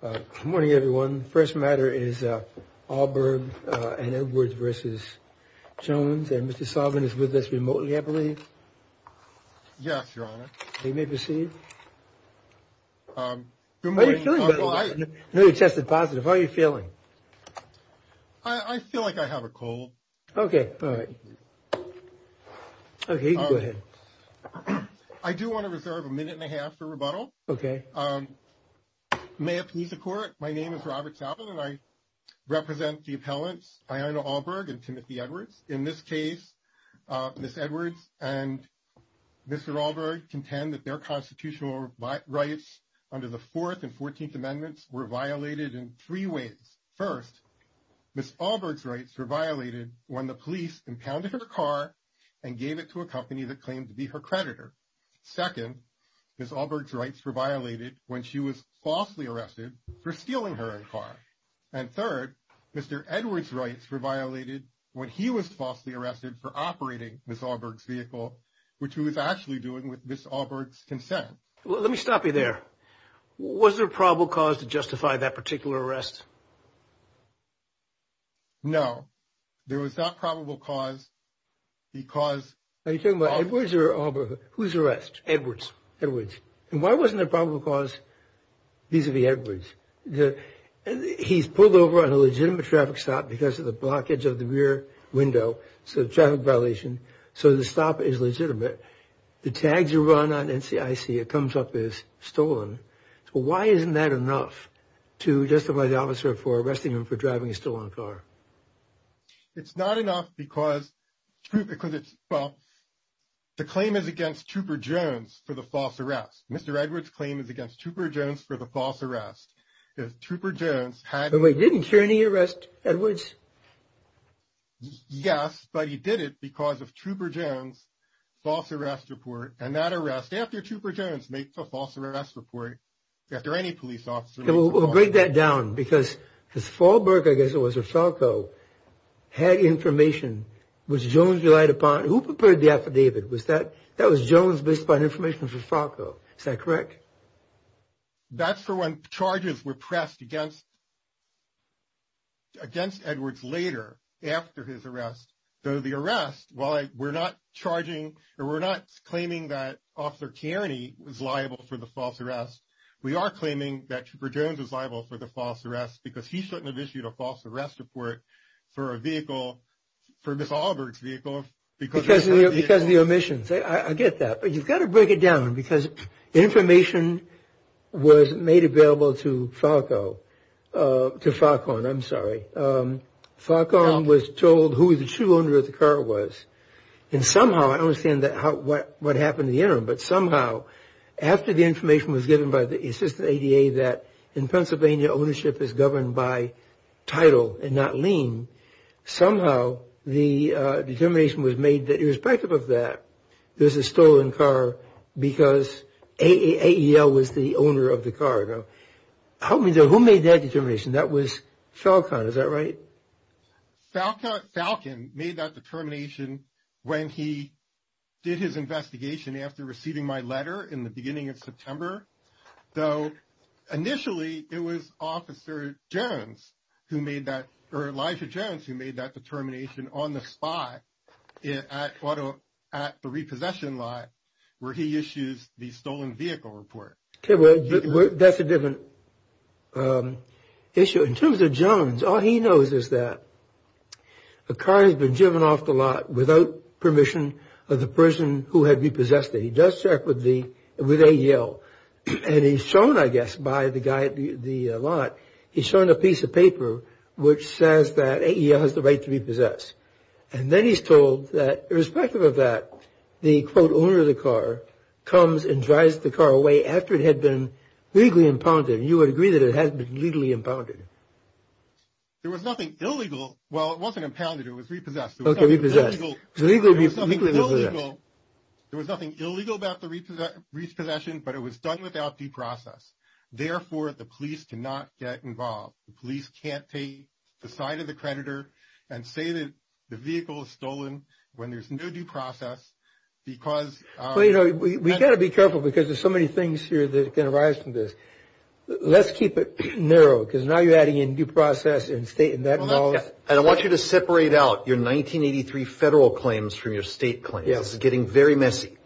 Good morning, everyone. First matter is Alburg and Edwards vs. Jones and Mr. Solvin is with us remotely, I believe. Yes, Your Honor. You may proceed. How are you feeling? I know you tested positive. How are you feeling? I feel like I have a cold. Okay. All right. Okay, you can go ahead. I do want to reserve a minute and a half for rebuttal. Okay. May it please the Court, my name is Robert Solvin and I represent the appellants Iana Alburg and Timothy Edwards. In this case, Ms. Edwards and Mr. Alburg contend that their constitutional rights under the Fourth and Fourteenth Amendments were violated in three ways. First, Ms. Alburg's rights were violated when the police impounded her car and gave it to a company that claimed to be her creditor. Second, Ms. Alburg's rights were violated when she was falsely arrested for stealing her car. And third, Mr. Edwards' rights were violated when he was falsely arrested for operating Ms. Alburg's vehicle, which he was actually doing with Ms. Alburg's consent. Well, let me stop you there. Was there probable cause to justify that particular arrest? No. There was not probable cause because – Are you talking about Edwards or Alburg? Who's arrested? Edwards. Edwards. And why wasn't there probable cause vis-a-vis Edwards? He's pulled over on a legitimate traffic stop because of the blockage of the rear window, so traffic violation, so the stop is legitimate. The tags are run on NCIC. It comes up as stolen. So why isn't that enough to justify the officer for arresting him for driving a stolen car? It's not enough because – well, the claim is against Trooper Jones for the false arrest. Mr. Edwards' claim is against Trooper Jones for the false arrest. Trooper Jones had – But we didn't hear any arrest Edwards. Yes, but he did it because of Trooper Jones' false arrest report. And that arrest, after Trooper Jones makes a false arrest report, after any police officer – We'll break that down because Falberg, I guess it was, or Falco, had information which Jones relied upon. Who prepared the affidavit? Was that – that was Jones based upon information from Falco. Is that correct? That's for when charges were pressed against Edwards later, after his arrest. So the arrest, while we're not charging or we're not claiming that Officer Kearney was liable for the false arrest, we are claiming that Trooper Jones was liable for the false arrest because he shouldn't have issued a false arrest report for a vehicle, for Ms. Alberg's vehicle. Because of the omissions. I get that. But you've got to break it down because information was made available to Falco – to Falcone, I'm sorry. Falcone was told who the true owner of the car was. And somehow – I don't understand what happened in the interim – but somehow, after the information was given by the Assistant ADA that in Pennsylvania, ownership is governed by title and not lien, somehow the determination was made that irrespective of that, there's a stolen car because AEL was the owner of the car. Now, help me there. Who made that determination? That was Falcone. Is that right? Falcone made that determination when he did his investigation after receiving my letter in the beginning of September. So initially, it was Officer Jones who made that – or Elijah Jones who made that determination on the spot at the repossession lot where he issues the stolen vehicle report. Okay, well, that's a different issue. In terms of Jones, all he knows is that a car has been driven off the lot without permission of the person who had repossessed it. He does check with the – with AEL. And he's shown, I guess, by the guy at the lot, he's shown a piece of paper which says that AEL has the right to repossess. And then he's told that irrespective of that, the, quote, owner of the car comes and drives the car away after it had been legally impounded. And you would agree that it had been legally impounded. There was nothing illegal – well, it wasn't impounded. It was repossessed. Okay, repossessed. There was nothing illegal about the repossession, but it was done without deprocess. Therefore, the police cannot get involved. The police can't take the side of the creditor and say that the vehicle is stolen when there's no deprocess because – Well, you know, we've got to be careful because there's so many things here that can arise from this. Let's keep it narrow because now you're adding in deprocess and state and that – And I want you to separate out your 1983 federal claims from your state claims. Yes. This is getting very messy.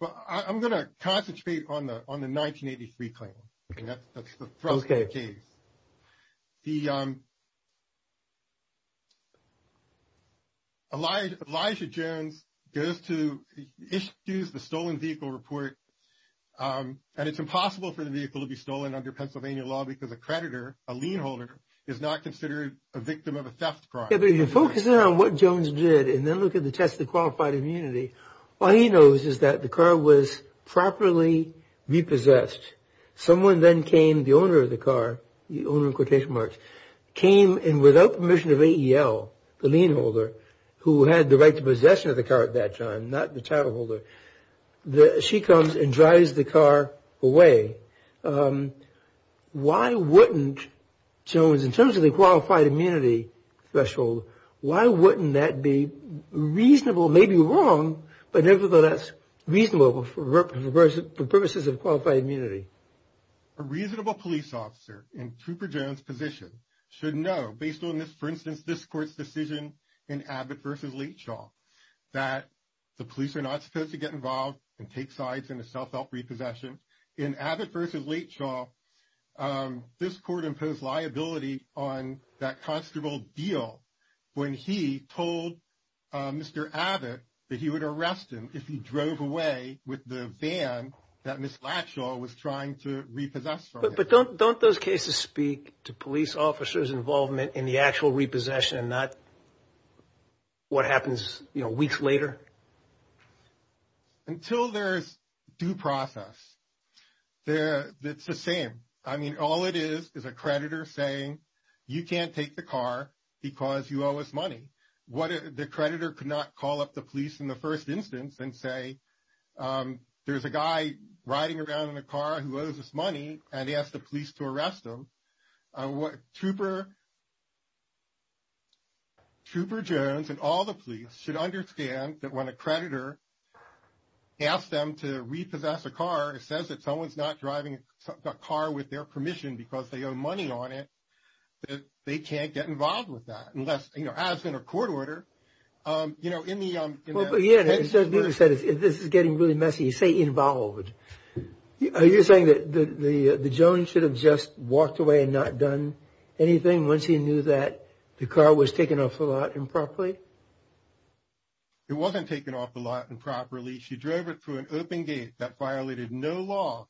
Well, I'm going to concentrate on the 1983 claim. Okay. And that's the Thrustgate case. The – Elijah Jones goes to – issues the stolen vehicle report. And it's impossible for the vehicle to be stolen under Pennsylvania law because a creditor, a lien holder, is not considered a victim of a theft crime. Okay, but if you focus in on what Jones did and then look at the test of the qualified immunity, all he knows is that the car was properly repossessed. Someone then came, the owner of the car, the owner in quotation marks, came and without permission of AEL, the lien holder who had the right to possession of the car at that time, not the title holder, she comes and drives the car away. Why wouldn't Jones, in terms of the qualified immunity threshold, why wouldn't that be reasonable, maybe wrong, but nevertheless reasonable for purposes of qualified immunity? A reasonable police officer in Trooper Jones' position should know, based on this, for instance, this court's decision in Abbott v. Leachaw, that the police are not supposed to get involved and take sides in a self-help repossession. In Abbott v. Leachaw, this court imposed liability on that constable Deal when he told Mr. Abbott that he would arrest him if he drove away with the van that Ms. Leachaw was trying to repossess from him. But don't those cases speak to police officers' involvement in the actual repossession and not what happens weeks later? Until there is due process, it's the same. I mean, all it is is a creditor saying, you can't take the car because you owe us money. The creditor could not call up the police in the first instance and say, there's a guy riding around in a car who owes us money and ask the police to arrest him. Trooper Jones and all the police should understand that when a creditor asks them to repossess a car and says that someone's not driving a car with their permission because they owe money on it, that they can't get involved with that unless, you know, as in a court order, you know, in the case. Well, but, yeah, as David said, this is getting really messy. Say involved. Are you saying that Jones should have just walked away and not done anything once he knew that the car was taken off the lot improperly? It wasn't taken off the lot improperly. She drove it through an open gate that violated no law.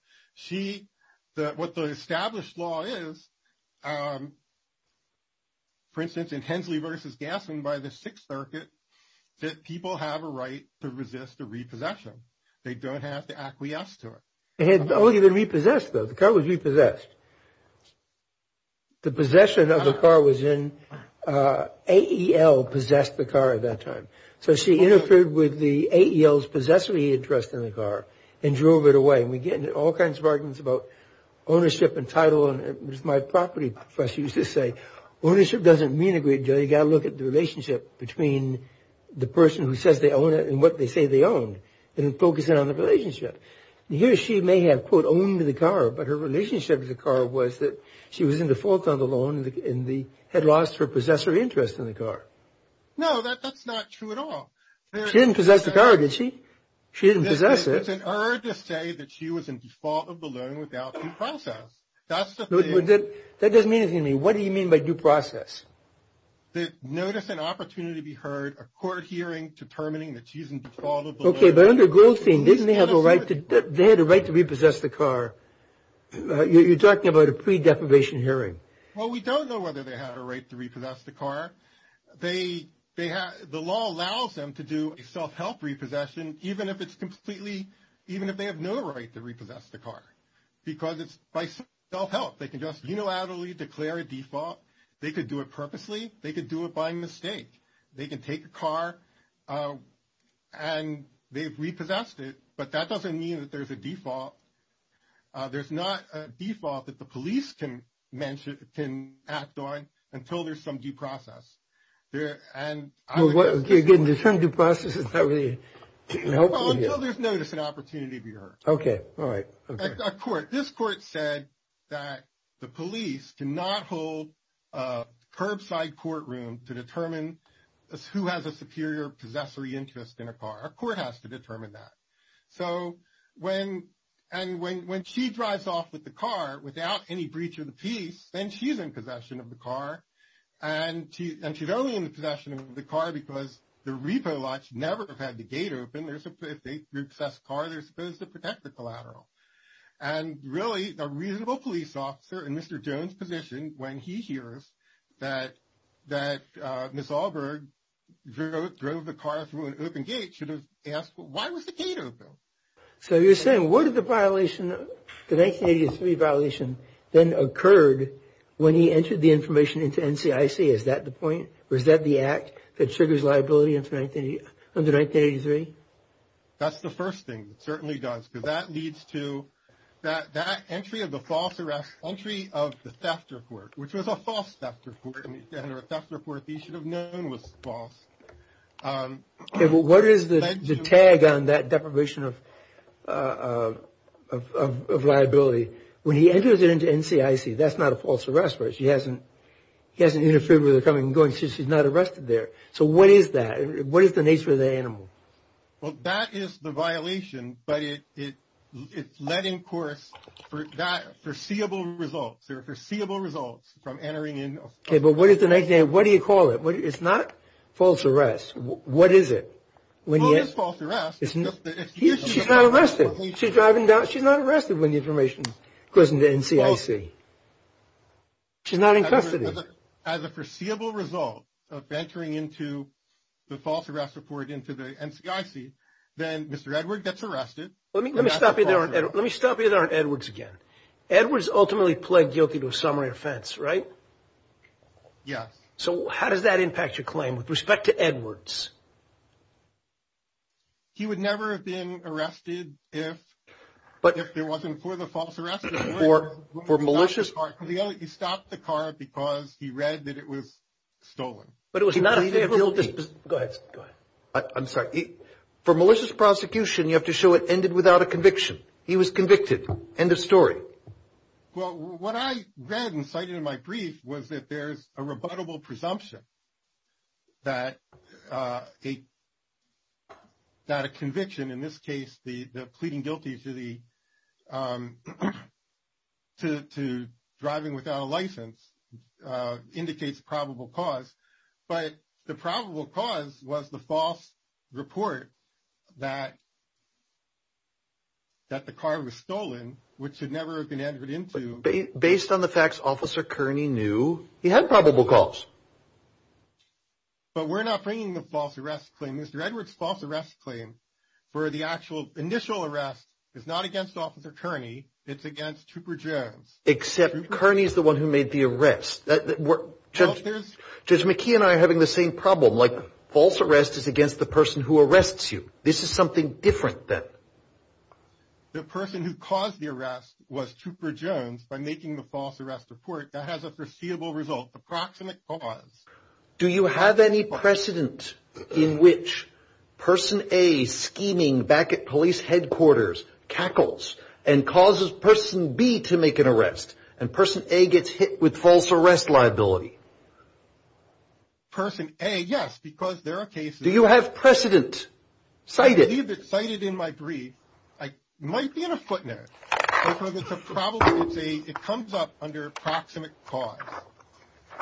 What the established law is, for instance, in Hensley v. Gasson by the Sixth Circuit, that people have a right to resist a repossession. They don't have to acquiesce to it. It had only been repossessed, though. The car was repossessed. The possession of the car was in. AEL possessed the car at that time. So she interfered with the AEL's possessive interest in the car and drove it away. And we get into all kinds of arguments about ownership and title. And as my property professor used to say, ownership doesn't mean a great deal. You've got to look at the relationship between the person who says they own it and what they say they own. And focus in on the relationship. Here she may have, quote, owned the car, but her relationship with the car was that she was in default on the loan and had lost her possessive interest in the car. No, that's not true at all. She didn't possess the car, did she? She didn't possess it. It's an error to say that she was in default of the loan without due process. That doesn't mean anything to me. What do you mean by due process? Notice an opportunity to be heard, a court hearing determining that she's in default of the loan. Okay, but under Goldstein, they had a right to repossess the car. You're talking about a pre-deprivation hearing. Well, we don't know whether they had a right to repossess the car. The law allows them to do a self-help repossession, even if it's completely, even if they have no right to repossess the car, because it's by self-help. They can just unilaterally declare a default. They could do it purposely. They could do it by mistake. They can take a car and they've repossessed it, but that doesn't mean that there's a default. There's not a default that the police can act on until there's some due process. Again, there's some due process. Is that really helpful? Until there's notice and opportunity to be heard. Okay, all right. This court said that the police cannot hold a curbside courtroom to determine who has a superior possessory interest in a car. A court has to determine that. So when she drives off with the car without any breach of the peace, then she's in possession of the car, and she's only in possession of the car because the repo lot should never have had the gate open. If they repossess a car, they're supposed to protect the collateral. And really, a reasonable police officer in Mr. Jones' position, when he hears that Ms. Allberg drove the car through an open gate, should have asked, why was the gate open? So you're saying, what if the violation, the 1983 violation, then occurred when he entered the information into NCIC? Is that the point? That triggers liability under 1983? That's the first thing. It certainly does, because that leads to, that entry of the false arrest, entry of the theft report, which was a false theft report, and a theft report he should have known was false. Okay, but what is the tag on that deprivation of liability? When he enters it into NCIC, that's not a false arrest, right? He hasn't interfered with her coming and going, so she's not arrested there. So what is that? What is the nature of that animal? Well, that is the violation, but it's letting course for that foreseeable result. There are foreseeable results from entering in a false arrest. Okay, but what do you call it? It's not false arrest. What is it? Well, it is false arrest. She's not arrested. She's driving down, she's not arrested when the information goes into NCIC. She's not in custody. As a foreseeable result of entering into the false arrest report into the NCIC, then Mr. Edward gets arrested. Let me stop you there on Edwards again. Edwards ultimately pled guilty to a summary offense, right? Yes. So how does that impact your claim with respect to Edwards? He would never have been arrested if it wasn't for the false arrest report. He stopped the car because he read that it was stolen. But it was not a favorable case. Go ahead. I'm sorry. For malicious prosecution, you have to show it ended without a conviction. He was convicted. End of story. Well, what I read and cited in my brief was that there is a rebuttable presumption that a conviction, in this case the pleading guilty to driving without a license, indicates probable cause. But the probable cause was the false report that the car was stolen, which should never have been entered into. Based on the facts, Officer Kearney knew he had probable cause. But we're not bringing the false arrest claim. Mr. Edwards' false arrest claim for the actual initial arrest is not against Officer Kearney. It's against Trooper Jones. Except Kearney is the one who made the arrest. Judge McKee and I are having the same problem. Like, false arrest is against the person who arrests you. This is something different then. The person who caused the arrest was Trooper Jones by making the false arrest report. That has a foreseeable result, approximate cause. Do you have any precedent in which person A, scheming back at police headquarters, cackles and causes person B to make an arrest, and person A gets hit with false arrest liability? Person A, yes, because there are cases. Do you have precedent cited? I believe it's cited in my brief. I might be in a footnote. It comes up under approximate cause,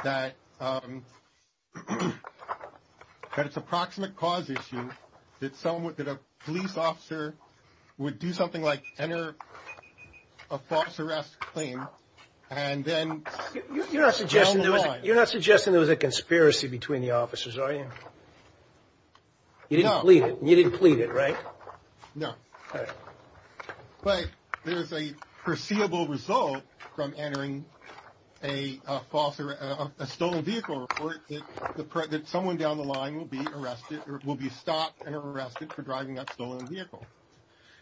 that it's a proximate cause issue, that a police officer would do something like enter a false arrest claim and then sell the line. You're not suggesting there was a conspiracy between the officers, are you? No. You didn't plead it, right? No. But there's a foreseeable result from entering a stolen vehicle report, that someone down the line will be stopped and arrested for driving that stolen vehicle.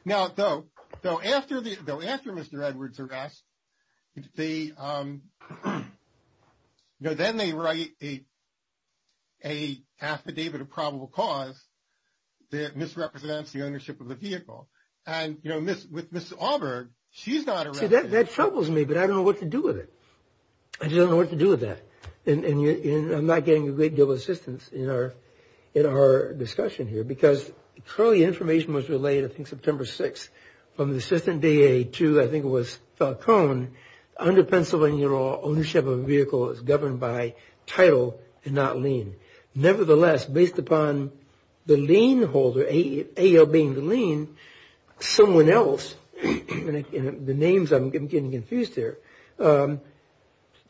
Now, though, after Mr. Edwards' arrest, they, you know, then they write a affidavit of probable cause that misrepresents the ownership of the vehicle. And, you know, with Ms. Auberg, she's not arrested. See, that troubles me, but I don't know what to do with it. I just don't know what to do with that. And I'm not getting a great deal of assistance in our discussion here, because clearly information was relayed, I think September 6th, from the assistant DA to, I think it was Falcone, under Pennsylvania law, ownership of a vehicle is governed by title and not lien. Nevertheless, based upon the lien holder, AEL being the lien, someone else, and the names, I'm getting confused here,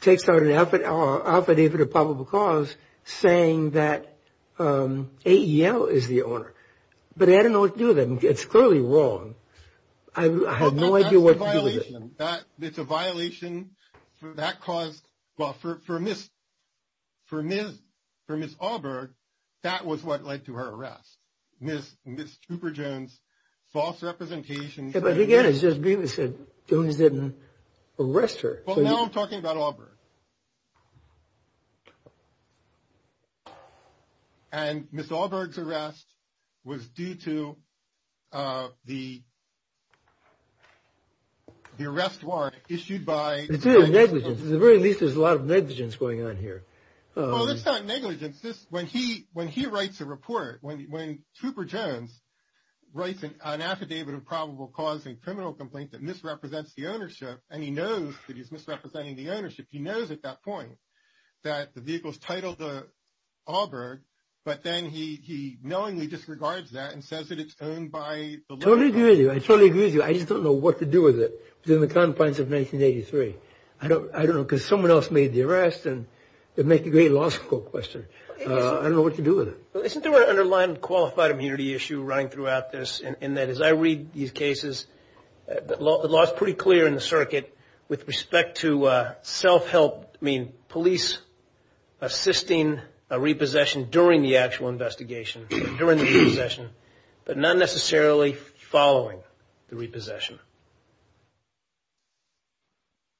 takes out an affidavit of probable cause saying that AEL is the owner. But I don't know what to do with it. It's clearly wrong. I have no idea what to do with it. That's a violation. It's a violation. That caused, well, for Ms. Auberg, that was what led to her arrest. Ms. Cooper-Jones, false representation. But again, it's just being said Jones didn't arrest her. Well, now I'm talking about Auberg. And Ms. Auberg's arrest was due to the arrest warrant issued by. It's due to negligence. At the very least, there's a lot of negligence going on here. Well, it's not negligence. When he writes a report, when Cooper-Jones writes an affidavit of probable cause and criminal complaint that misrepresents the ownership, and he knows that he's misrepresenting the ownership, he knows at that point that the vehicle's titled Auberg, but then he knowingly disregards that and says that it's owned by. I totally agree with you. I totally agree with you. I just don't know what to do with it. It was in the confines of 1983. I don't know because someone else made the arrest, and it would make a great law school question. I don't know what to do with it. Isn't there an underlying qualified immunity issue running throughout this, in that as I read these cases, the law's pretty clear in the circuit with respect to self-help, I mean police assisting a repossession during the actual investigation, during the repossession, but not necessarily following the repossession?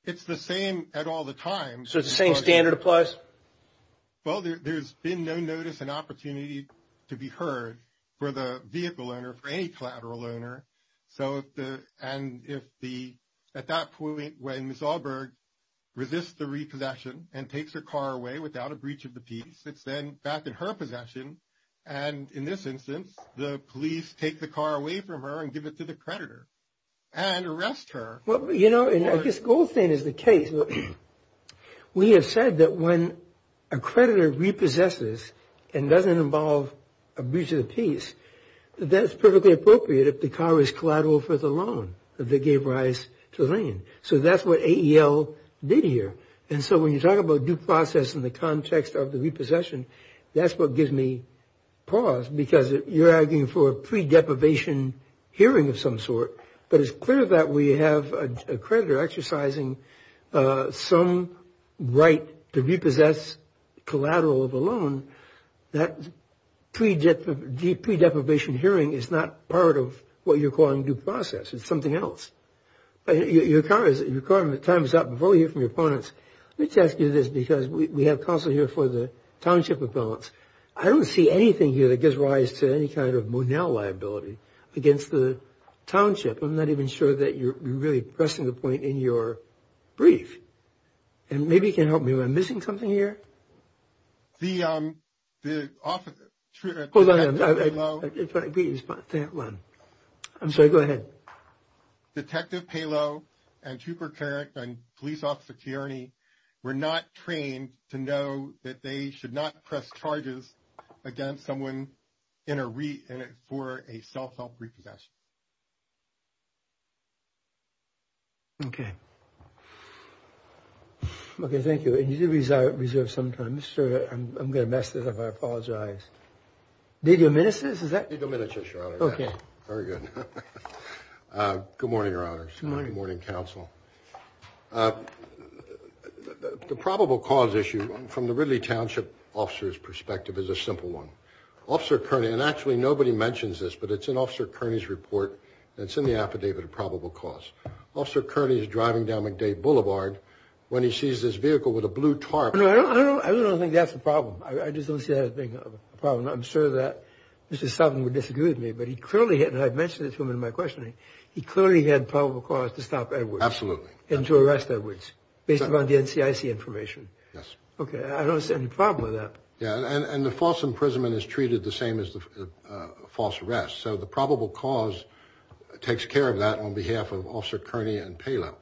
It's the same at all the times. So the same standard applies? Well, there's been no notice and opportunity to be heard for the vehicle owner, for any collateral owner, and at that point when Ms. Auberg resists the repossession and takes her car away without a breach of the peace, it's then back in her possession, and in this instance the police take the car away from her and give it to the creditor and arrest her. Well, you know, and I guess Goldstein is the case. We have said that when a creditor repossesses and doesn't involve a breach of the peace, that's perfectly appropriate if the car is collateral for the loan that they gave Rice to Lane. So that's what AEL did here. And so when you talk about due process in the context of the repossession, that's what gives me pause because you're arguing for a pre-deprivation hearing of some sort, but it's clear that we have a creditor exercising some right to repossess collateral of a loan. That pre-deprivation hearing is not part of what you're calling due process. It's something else. Your time is up. Before we hear from your opponents, let me just ask you this because we have counsel here for the township appellants. I don't see anything here that gives rise to any kind of Monell liability against the township. I'm not even sure that you're really pressing the point in your brief. And maybe you can help me. Am I missing something here? The officer. Hold on. I'm sorry. Go ahead. Detective Palo and Trooper Carrick and police officer Kearney were not trained to know that they should not press charges against someone for a self-help repossession. Okay. Okay, thank you. And you do reserve some time. I'm going to mess this up. I apologize. Did you miss this? Did you miss this, your honor? Okay. Very good. Good morning, your honors. Good morning. Good morning, counsel. The probable cause issue from the Ridley Township officer's perspective is a simple one. Officer Kearney, and actually nobody mentions this, but it's in Officer Kearney's report. It's in the affidavit of probable cause. Officer Kearney is driving down McDade Boulevard when he sees this vehicle with a blue tarp. I don't think that's a problem. I just don't see that as being a problem. I'm sure that Mr. Sutton would disagree with me, but he clearly had, and I've mentioned this to him in my questioning, he clearly had probable cause to stop Edwards. Absolutely. And to arrest Edwards based upon the NCIC information. Yes. Okay. I don't see any problem with that. Yeah, and the false imprisonment is treated the same as the false arrest. So the probable cause takes care of that on behalf of Officer Kearney and Palo.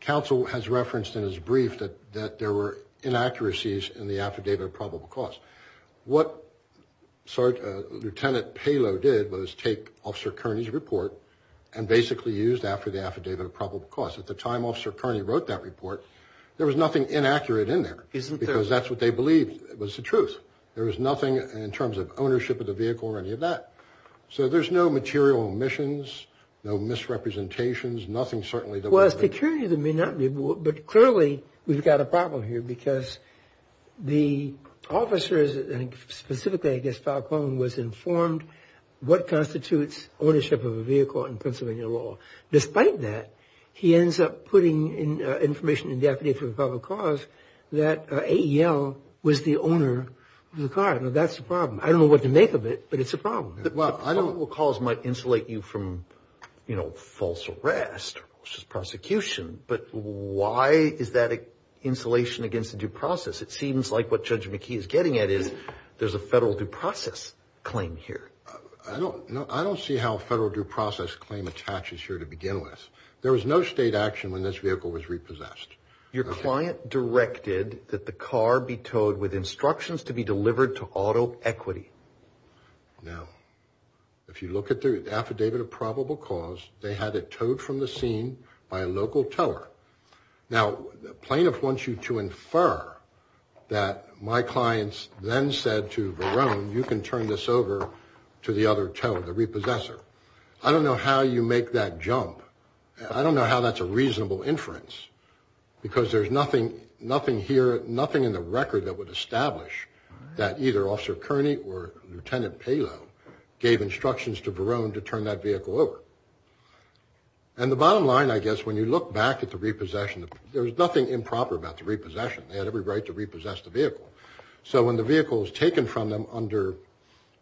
Counsel has referenced in his brief that there were inaccuracies in the affidavit of probable cause. What Lieutenant Palo did was take Officer Kearney's report and basically used that for the affidavit of probable cause. At the time Officer Kearney wrote that report, there was nothing inaccurate in there. Isn't there? Because that's what they believed was the truth. There was nothing in terms of ownership of the vehicle or any of that. So there's no material omissions, no misrepresentations. There's nothing certainly that would have been. Well, as to Kearney, there may not be, but clearly we've got a problem here because the officers, and specifically I guess Palo was informed what constitutes ownership of a vehicle in Pennsylvania law. Despite that, he ends up putting information in the affidavit of probable cause that AEL was the owner of the car. Now, that's the problem. I don't know what to make of it, but it's a problem. The probable cause might insulate you from, you know, false arrest or false prosecution, but why is that an insulation against the due process? It seems like what Judge McKee is getting at is there's a federal due process claim here. I don't see how a federal due process claim attaches here to begin with. There was no state action when this vehicle was repossessed. Your client directed that the car be towed with instructions to be delivered to auto equity. Now, if you look at the affidavit of probable cause, they had it towed from the scene by a local tower. Now, the plaintiff wants you to infer that my clients then said to Varone, you can turn this over to the other tower, the repossessor. I don't know how you make that jump. I don't know how that's a reasonable inference because there's nothing here, nothing in the record that would establish that either Officer Kearney or Lieutenant Palo gave instructions to Varone to turn that vehicle over. And the bottom line, I guess, when you look back at the repossession, there was nothing improper about the repossession. They had every right to repossess the vehicle. So when the vehicle was taken from them under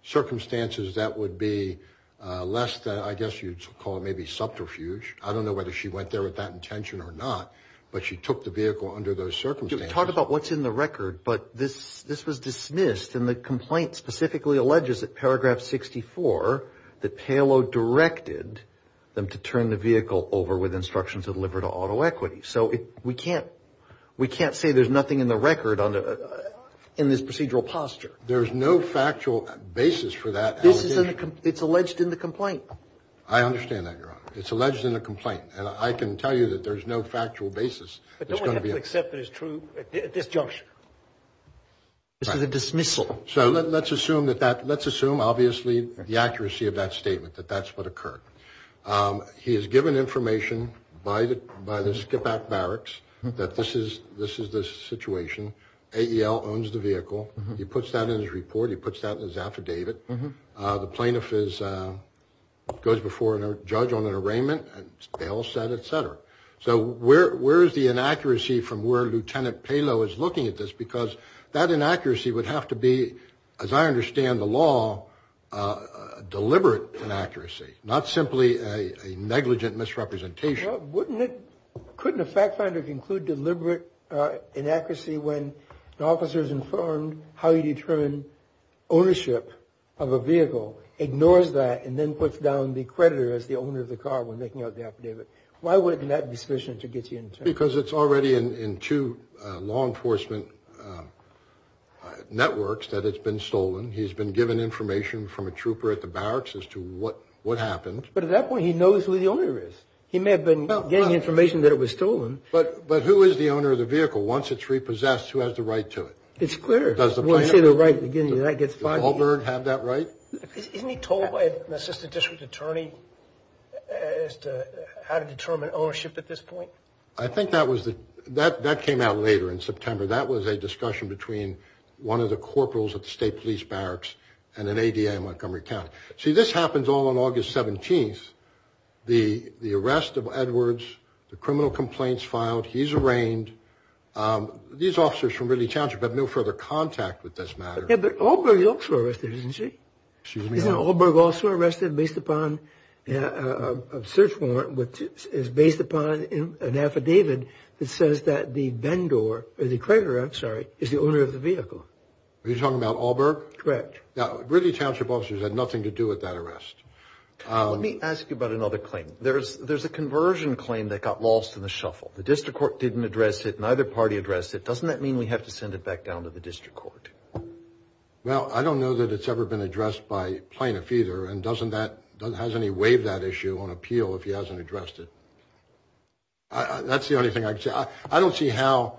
circumstances that would be less than, I guess you'd call it maybe subterfuge. I don't know whether she went there with that intention or not, but she took the vehicle under those circumstances. Talk about what's in the record, but this was dismissed, and the complaint specifically alleges that paragraph 64 that Palo directed them to turn the vehicle over with instructions to deliver to auto equity. So we can't say there's nothing in the record in this procedural posture. There's no factual basis for that allegation. It's alleged in the complaint. I understand that, Your Honor. It's alleged in the complaint, and I can tell you that there's no factual basis. But don't we have to accept that it's true at this juncture? It's a dismissal. So let's assume, obviously, the accuracy of that statement, that that's what occurred. He is given information by the skip-back barracks that this is the situation. AEL owns the vehicle. He puts that in his report. He puts that in his affidavit. The plaintiff goes before a judge on an arraignment, and bail is set, et cetera. So where is the inaccuracy from where Lieutenant Palo is looking at this? Because that inaccuracy would have to be, as I understand the law, deliberate inaccuracy, not simply a negligent misrepresentation. Couldn't a fact finder conclude deliberate inaccuracy when the officer is informed how you determine ownership of a vehicle, ignores that, and then puts down the creditor as the owner of the car when making out the affidavit? Why would it not be sufficient to get you an attorney? Because it's already in two law enforcement networks that it's been stolen. He's been given information from a trooper at the barracks as to what happened. But at that point, he knows who the owner is. He may have been getting information that it was stolen. But who is the owner of the vehicle? Once it's repossessed, who has the right to it? It's clear. Does the plaintiff have that right? Does Auburn have that right? Isn't he told by an assistant district attorney as to how to determine ownership at this point? I think that came out later in September. That was a discussion between one of the corporals at the state police barracks and an ADA in Montgomery County. See, this happens all on August 17th. The arrest of Edwards, the criminal complaints filed, he's arraigned. These officers from Ridley Township have no further contact with this matter. Yeah, but Allberg is also arrested, isn't she? Excuse me? Isn't Allberg also arrested based upon a search warrant which is based upon an affidavit that says that the vendor, or the creditor, I'm sorry, is the owner of the vehicle? Are you talking about Allberg? Correct. Now, Ridley Township officers had nothing to do with that arrest. Let me ask you about another claim. There's a conversion claim that got lost in the shuffle. The district court didn't address it. Neither party addressed it. Doesn't that mean we have to send it back down to the district court? Well, I don't know that it's ever been addressed by plaintiff either, and hasn't he waived that issue on appeal if he hasn't addressed it? That's the only thing I can say. I don't see how,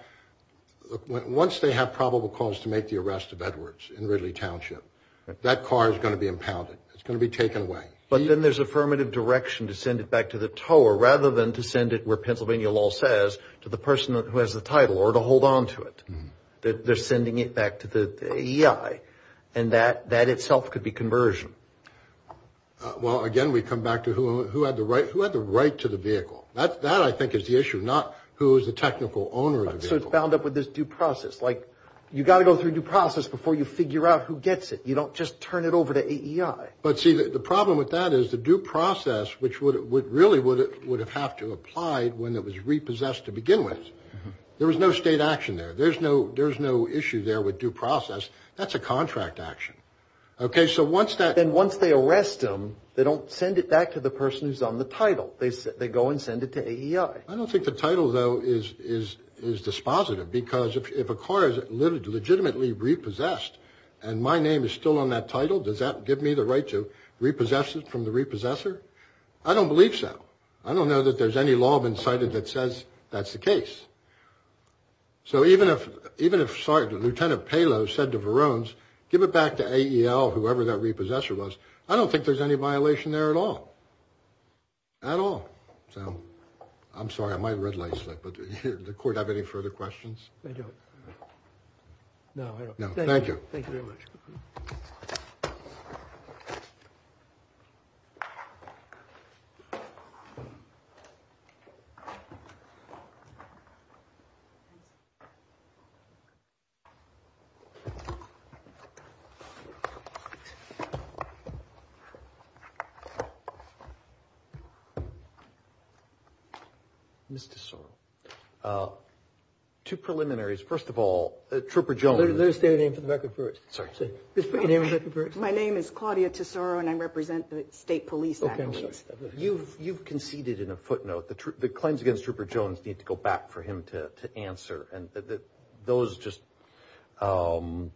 once they have probable cause to make the arrest of Edwards in Ridley Township, that car is going to be impounded. It's going to be taken away. But then there's affirmative direction to send it back to the tower rather than to send it where Pennsylvania law says, to the person who has the title or to hold on to it. They're sending it back to the AEI, and that itself could be conversion. Well, again, we come back to who had the right to the vehicle. That, I think, is the issue, not who is the technical owner of the vehicle. So it's bound up with this due process. Like, you've got to go through due process before you figure out who gets it. You don't just turn it over to AEI. But, see, the problem with that is the due process, which really would have had to apply when it was repossessed to begin with. There was no state action there. There's no issue there with due process. That's a contract action. Okay, so once that. Then once they arrest him, they don't send it back to the person who's on the title. They go and send it to AEI. I don't think the title, though, is dispositive, because if a car is legitimately repossessed and my name is still on that title, does that give me the right to repossess it from the repossessor? I don't believe so. I don't know that there's any law been cited that says that's the case. So even if, sorry, Lieutenant Palo said to Verones, give it back to AEL, whoever that repossessor was, I don't think there's any violation there at all. At all. So I'm sorry, I might red light slip, but does the court have any further questions? I don't. No, I don't. No, thank you. Thank you very much. Mr. Sorrell. Two preliminaries. First of all, Trooper Jones. Let her state her name for the record first. Sorry. Just put your name for the record first. My name is Claudia Tesoro, and I represent the State Police Act. You've conceded in a footnote the claims against Trooper Jones need to go back for him to answer, and those just, you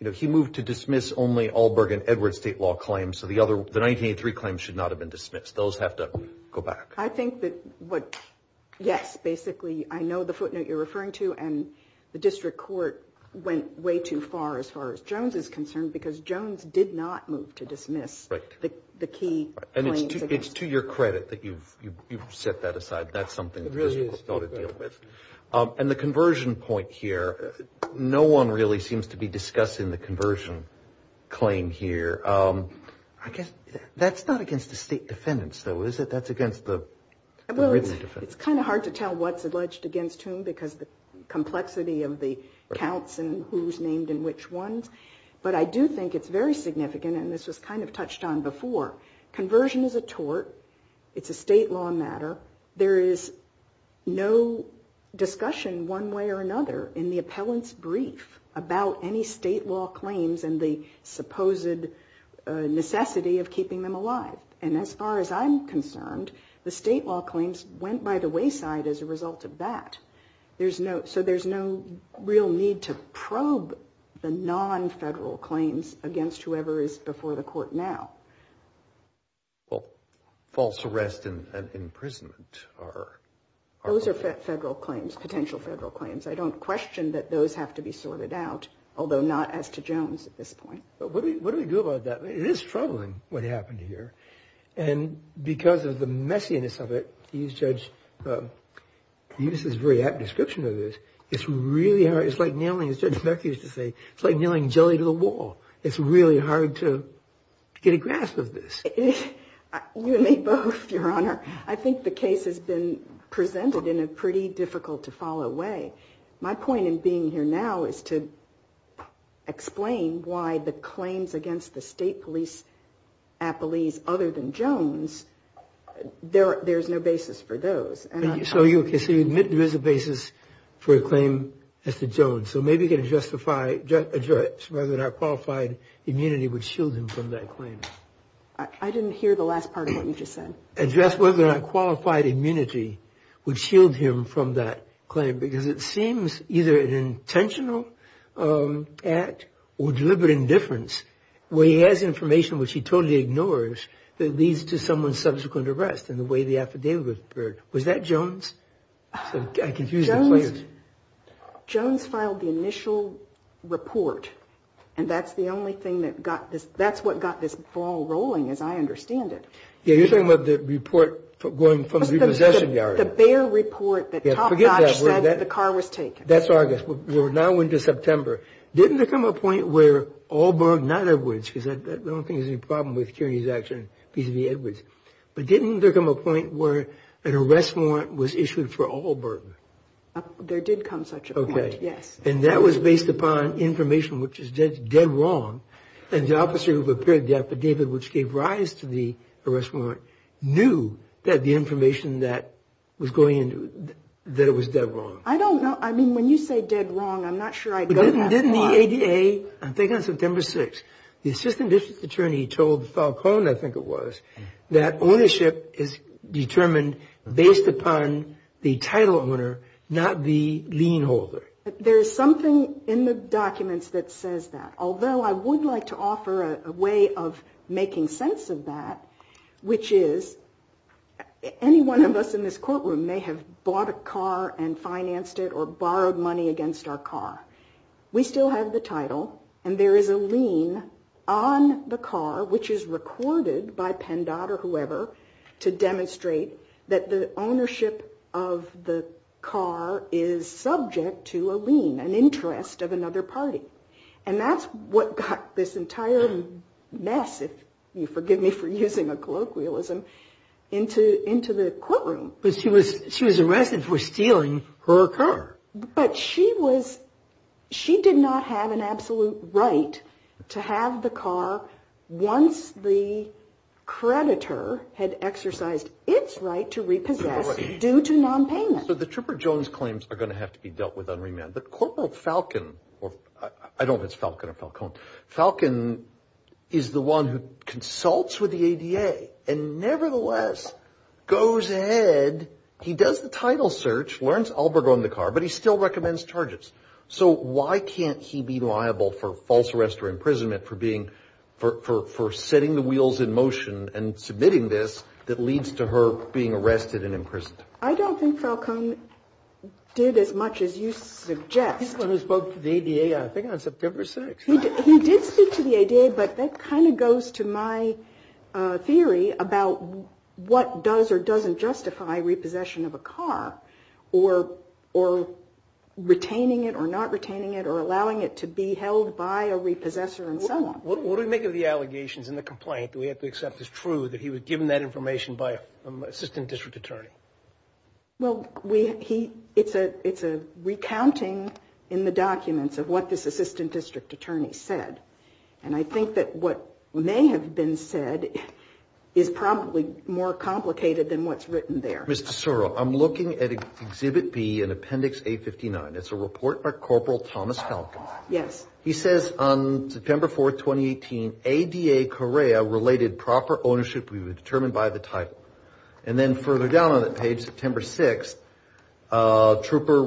know, he moved to dismiss only Allberg and Edwards state law claims, so the 1983 claims should not have been dismissed. Those have to go back. I think that what, yes, basically, I know the footnote you're referring to, and the district court went way too far as far as Jones is concerned, because Jones did not move to dismiss the key claims. And it's to your credit that you've set that aside. That's something the district court ought to deal with. It really is. And the conversion point here, no one really seems to be discussing the conversion claim here. I guess that's not against the state defendants, though, is it? That's against the written defendants. It's kind of hard to tell what's alleged against whom because the complexity of the counts and who's named and which ones, but I do think it's very significant, and this was kind of touched on before. Conversion is a tort. It's a state law matter. There is no discussion one way or another in the appellant's brief about any state law claims and the supposed necessity of keeping them alive. And as far as I'm concerned, the state law claims went by the wayside as a result of that. So there's no real need to probe the non-federal claims against whoever is before the court now. Well, false arrest and imprisonment are... Those are federal claims, potential federal claims. I don't question that those have to be sorted out, although not as to Jones at this point. What do we do about that? It is troubling what happened here, and because of the messiness of it, you, Judge, used this very apt description of this. It's really hard. It's like nailing, as Judge McCarthy used to say, it's like nailing jelly to the wall. It's really hard to get a grasp of this. You and me both, Your Honor. I think the case has been presented in a pretty difficult-to-follow way. My point in being here now is to explain why the claims against the state police at Belize, other than Jones, there's no basis for those. So you admit there is a basis for a claim as to Jones. So maybe you can address whether or not qualified immunity would shield him from that claim. I didn't hear the last part of what you just said. Maybe you can address whether or not qualified immunity would shield him from that claim, because it seems either an intentional act or deliberate indifference, where he has information which he totally ignores, that leads to someone's subsequent arrest in the way the affidavit occurred. Was that Jones? I confused the claims. Jones filed the initial report, and that's the only thing that got this. That's what got this ball rolling, as I understand it. Yeah, you're talking about the report going from the possession yard. The Bayer report that Topdotch said the car was taken. That's August. We're now into September. Didn't there come a point where Allberg, not Edwards, because I don't think there's any problem with Kearney's action vis-à-vis Edwards, but didn't there come a point where an arrest warrant was issued for Allberg? There did come such a point, yes. Okay. And that was based upon information which is dead wrong, and the officer who prepared the affidavit which gave rise to the arrest warrant knew that the information that was going in, that it was dead wrong. I don't know. I mean, when you say dead wrong, I'm not sure I go that far. Didn't the ADA, I think on September 6th, the assistant district attorney told Falcone, I think it was, that ownership is determined based upon the title owner, not the lien holder. There is something in the documents that says that, although I would like to offer a way of making sense of that, which is any one of us in this courtroom may have bought a car and financed it or borrowed money against our car. We still have the title, and there is a lien on the car, which is recorded by PennDOT or whoever, to demonstrate that the ownership of the car is subject to a lien, an interest of another party. And that's what got this entire mess, if you forgive me for using a colloquialism, into the courtroom. But she was arrested for stealing her car. But she did not have an absolute right to have the car once the creditor had exercised its right to repossess due to nonpayment. So the Trooper Jones claims are going to have to be dealt with on remand. But Corporal Falcon, or I don't know if it's Falcon or Falcone, Falcon is the one who consults with the ADA and nevertheless goes ahead. He does the title search, learns Alberger owned the car, but he still recommends charges. So why can't he be liable for false arrest or imprisonment for setting the wheels in motion and submitting this that leads to her being arrested and imprisoned? I don't think Falcon did as much as you suggest. He's the one who spoke to the ADA, I think, on September 6th. He did speak to the ADA, but that kind of goes to my theory about what does or doesn't justify repossession of a car, or retaining it or not retaining it, or allowing it to be held by a repossessor and so on. What do we make of the allegations in the complaint that we have to accept is true that he was given that information by an assistant district attorney? Well, it's a recounting in the documents of what this assistant district attorney said. And I think that what may have been said is probably more complicated than what's written there. Mr. Sorrell, I'm looking at Exhibit B in Appendix A59. It's a report by Corporal Thomas Falcon. Yes. He says, on September 4th, 2018, ADA-Corea related proper ownership to be determined by the title. And then further down on that page, September 6th, Trooper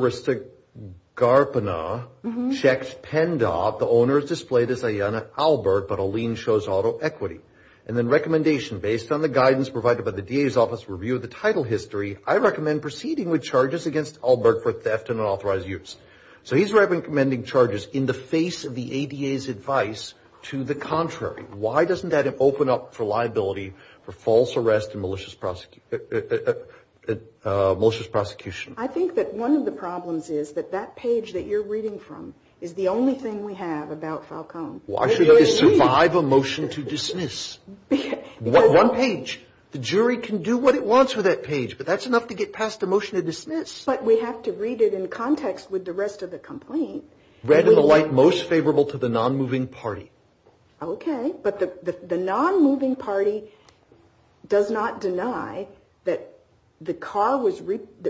Ristigarpana checked PennDOT. The owner is displayed as Ayanna Albert, but a lien shows auto equity. And then recommendation, based on the guidance provided by the DA's office review of the title history, I recommend proceeding with charges against Albert for theft and unauthorized use. So he's recommending charges in the face of the ADA's advice to the contrary. Why doesn't that open up for liability for false arrest and malicious prosecution? I think that one of the problems is that that page that you're reading from is the only thing we have about Falcon. Why should it survive a motion to dismiss? One page. The jury can do what it wants with that page, but that's enough to get past a motion to dismiss. But we have to read it in context with the rest of the complaint. Read in the light most favorable to the non-moving party. Okay. But the non-moving party does not deny that the car was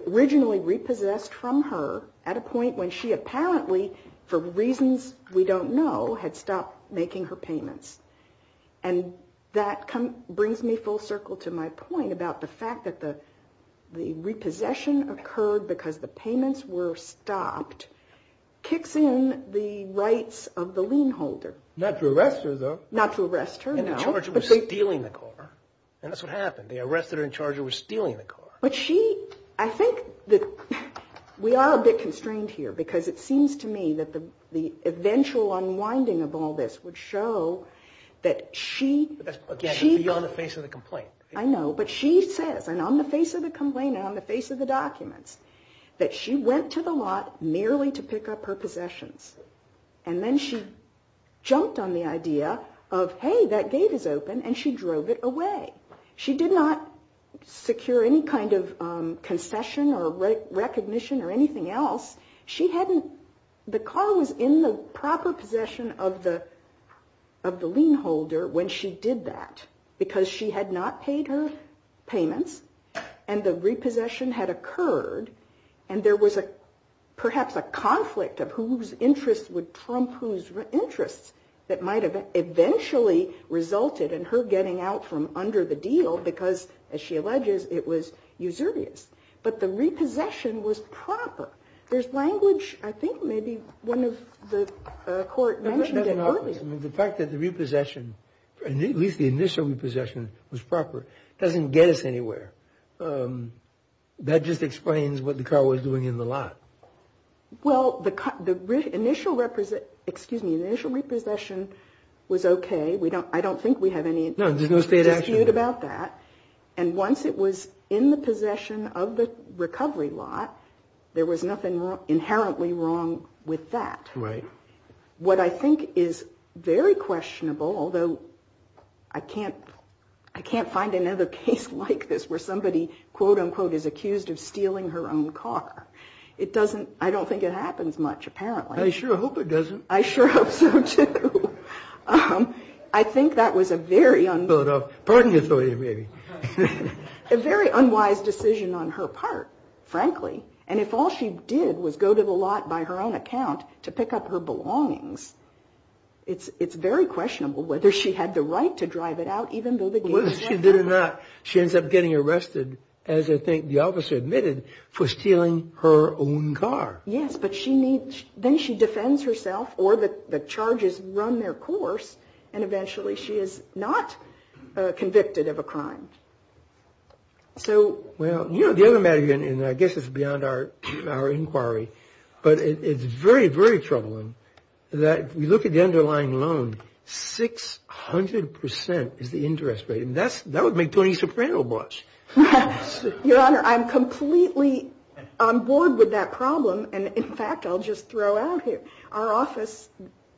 originally repossessed from her at a point when she apparently, for reasons we don't know, had stopped making her payments. And that brings me full circle to my point about the fact that the repossession occurred because the payments were stopped kicks in the rights of the lien holder. Not to arrest her, though. Not to arrest her, no. And the charger was stealing the car. And that's what happened. The arrestor and charger were stealing the car. But she, I think that we are a bit constrained here because it seems to me that the eventual unwinding of all this would show that she... But that's beyond the face of the complaint. I know. But she says, and on the face of the complaint and on the face of the documents, that she went to the lot merely to pick up her possessions. And then she jumped on the idea of, hey, that gate is open, and she drove it away. She did not secure any kind of concession or recognition or anything else. She hadn't... The car was in the proper possession of the lien holder when she did that because she had not paid her payments and the repossession had occurred and there was perhaps a conflict of whose interests would trump whose interests that might have eventually resulted in her getting out from under the deal because, as she alleges, it was usurious. But the repossession was proper. There's language, I think maybe one of the court mentioned it earlier. Yes, the fact that the repossession, at least the initial repossession, was proper doesn't get us anywhere. That just explains what the car was doing in the lot. Well, the initial repossession was okay. I don't think we have any dispute about that. And once it was in the possession of the recovery lot, there was nothing inherently wrong with that. Right. What I think is very questionable, although I can't find another case like this where somebody, quote, unquote, is accused of stealing her own car. I don't think it happens much, apparently. I sure hope it doesn't. I sure hope so, too. I think that was a very unwise decision on her part, frankly. And if all she did was go to the lot by her own account to pick up her belongings, it's very questionable whether she had the right to drive it out, even though they gave her that car. Whether she did or not, she ends up getting arrested, as I think the officer admitted, for stealing her own car. Yes, but then she defends herself, or the charges run their course, Well, you know, the other matter, and I guess it's beyond our inquiry, but it's very, very troubling that if we look at the underlying loan, 600 percent is the interest rate. And that would make Tony Soprano blush. Your Honor, I'm completely on board with that problem. And, in fact, I'll just throw out here, our office,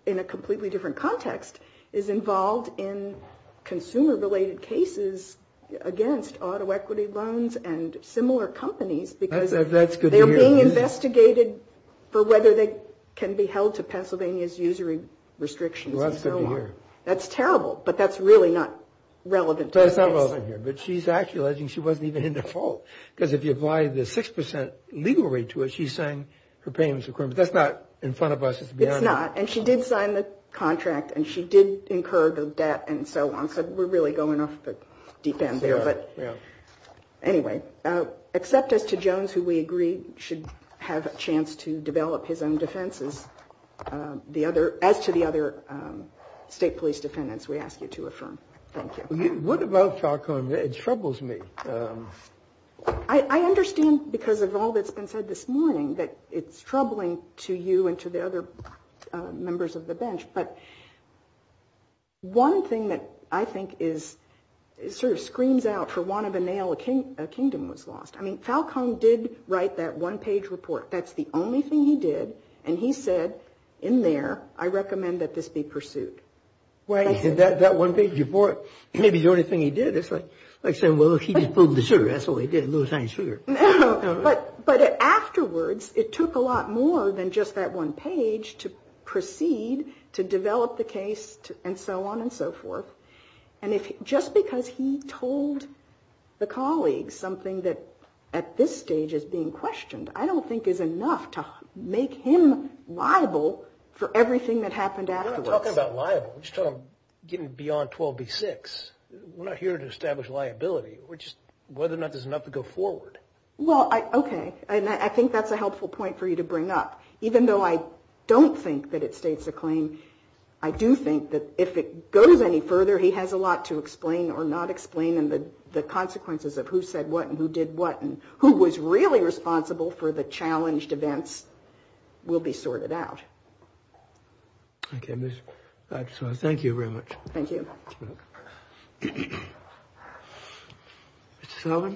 in a completely different context, is involved in consumer-related cases against auto equity loans and similar companies. That's good to hear. Because they are being investigated for whether they can be held to Pennsylvania's usury restrictions and so on. Well, that's good to hear. That's terrible, but that's really not relevant to this case. That's not relevant here. But she's actually alleging she wasn't even in the fault, because if you apply the 6 percent legal rate to it, she's saying her payments were corrupt. That's not in front of us. It's not. And she did sign the contract, and she did incur the debt and so on. So we're really going off the deep end there. Yeah. Anyway, except as to Jones, who we agree should have a chance to develop his own defenses, as to the other state police defendants, we ask you to affirm. Thank you. What about Falcone? It troubles me. I understand, because of all that's been said this morning, that it's troubling to you and to the other members of the bench. But one thing that I think sort of screams out, for want of a nail, a kingdom was lost. I mean, Falcone did write that one-page report. That's the only thing he did. And he said in there, I recommend that this be pursued. That one-page report may be the only thing he did. It's like saying, well, he just pulled the sugar. That's all he did, a little tiny sugar. But afterwards, it took a lot more than just that one page to proceed, to develop the case, and so on and so forth. And just because he told the colleagues something that at this stage is being questioned, I don't think is enough to make him liable for everything that happened afterwards. We're not talking about liable. We're just talking about getting beyond 12B6. We're not here to establish liability. We're just, whether or not there's enough to go forward. Well, okay. And I think that's a helpful point for you to bring up. Even though I don't think that it states a claim, I do think that if it goes any further, he has a lot to explain or not explain, and the consequences of who said what and who did what and who was really responsible for the challenged events will be sorted out. Thank you very much. Thank you. Mr. Sullivan?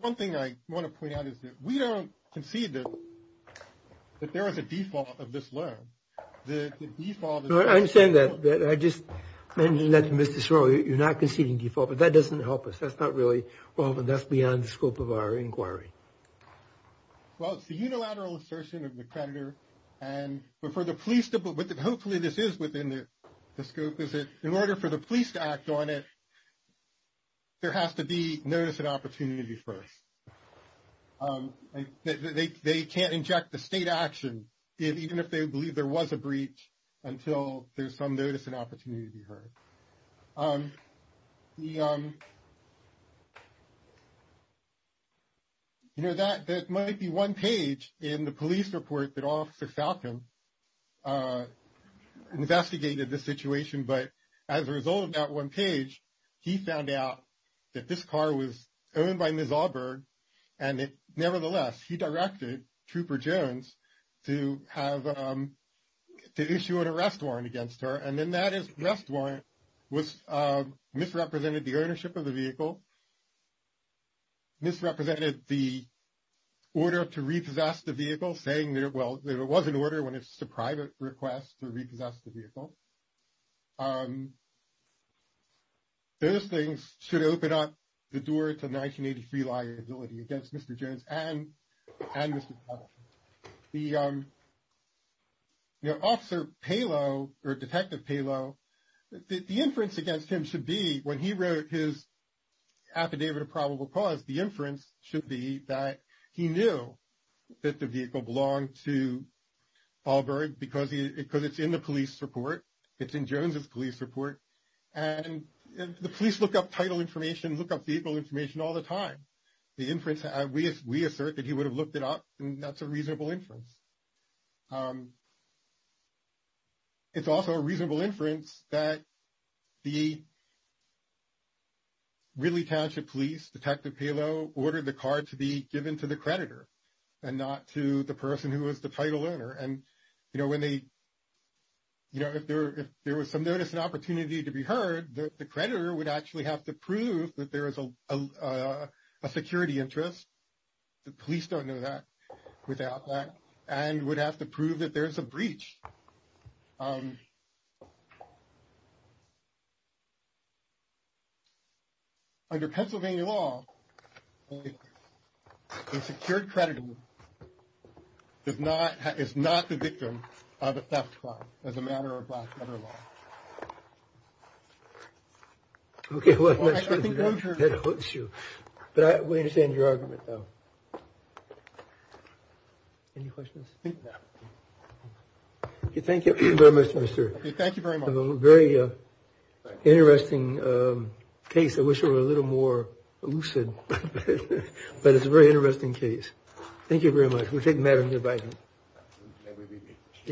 One thing I want to point out is that we don't concede that there is a default of this loan. I understand that. Mr. Sorrell, you're not conceding default, but that doesn't help us. That's not really relevant. That's beyond the scope of our inquiry. Well, it's the unilateral assertion of the creditor. Hopefully this is within the scope. In order for the police to act on it, there has to be notice and opportunity first. They can't inject the state action, even if they believe there was a breach, until there's some notice and opportunity to be heard. You know, that might be one page in the police report that Officer Falcon investigated the situation, but as a result of that one page, he found out that this car was owned by Ms. Auberg, and nevertheless he directed Trooper Jones to issue an arrest warrant against her. And then that arrest warrant misrepresented the ownership of the vehicle, misrepresented the order to repossess the vehicle, saying that it was an order when it's a private request to repossess the vehicle. Those things should open up the door to 1983 liability against Mr. Jones and Mr. Falcon. The Officer Palo, or Detective Palo, the inference against him should be, when he wrote his affidavit of probable cause, the inference should be that he knew that the vehicle belonged to Auberg, because it's in the police report. It's in Jones's police report. And the police look up title information, look up vehicle information all the time. We assert that he would have looked it up, and that's a reasonable inference. It's also a reasonable inference that the Ridley Township Police, Detective Palo, ordered the car to be given to the creditor and not to the person who was the title owner. And if there was some notice and opportunity to be heard, the creditor would actually have to prove that there is a security interest. The police don't know that without that, and would have to prove that there's a breach. Under Pennsylvania law, a secured creditor is not the victim of a theft crime, as a matter of black matter law. Okay, well, I think that hurts you. But we understand your argument, though. Any questions? No. Thank you very much, Mr. Thank you very much. A very interesting case. I wish it were a little more lucid, but it's a very interesting case. Thank you very much. We take matters into account.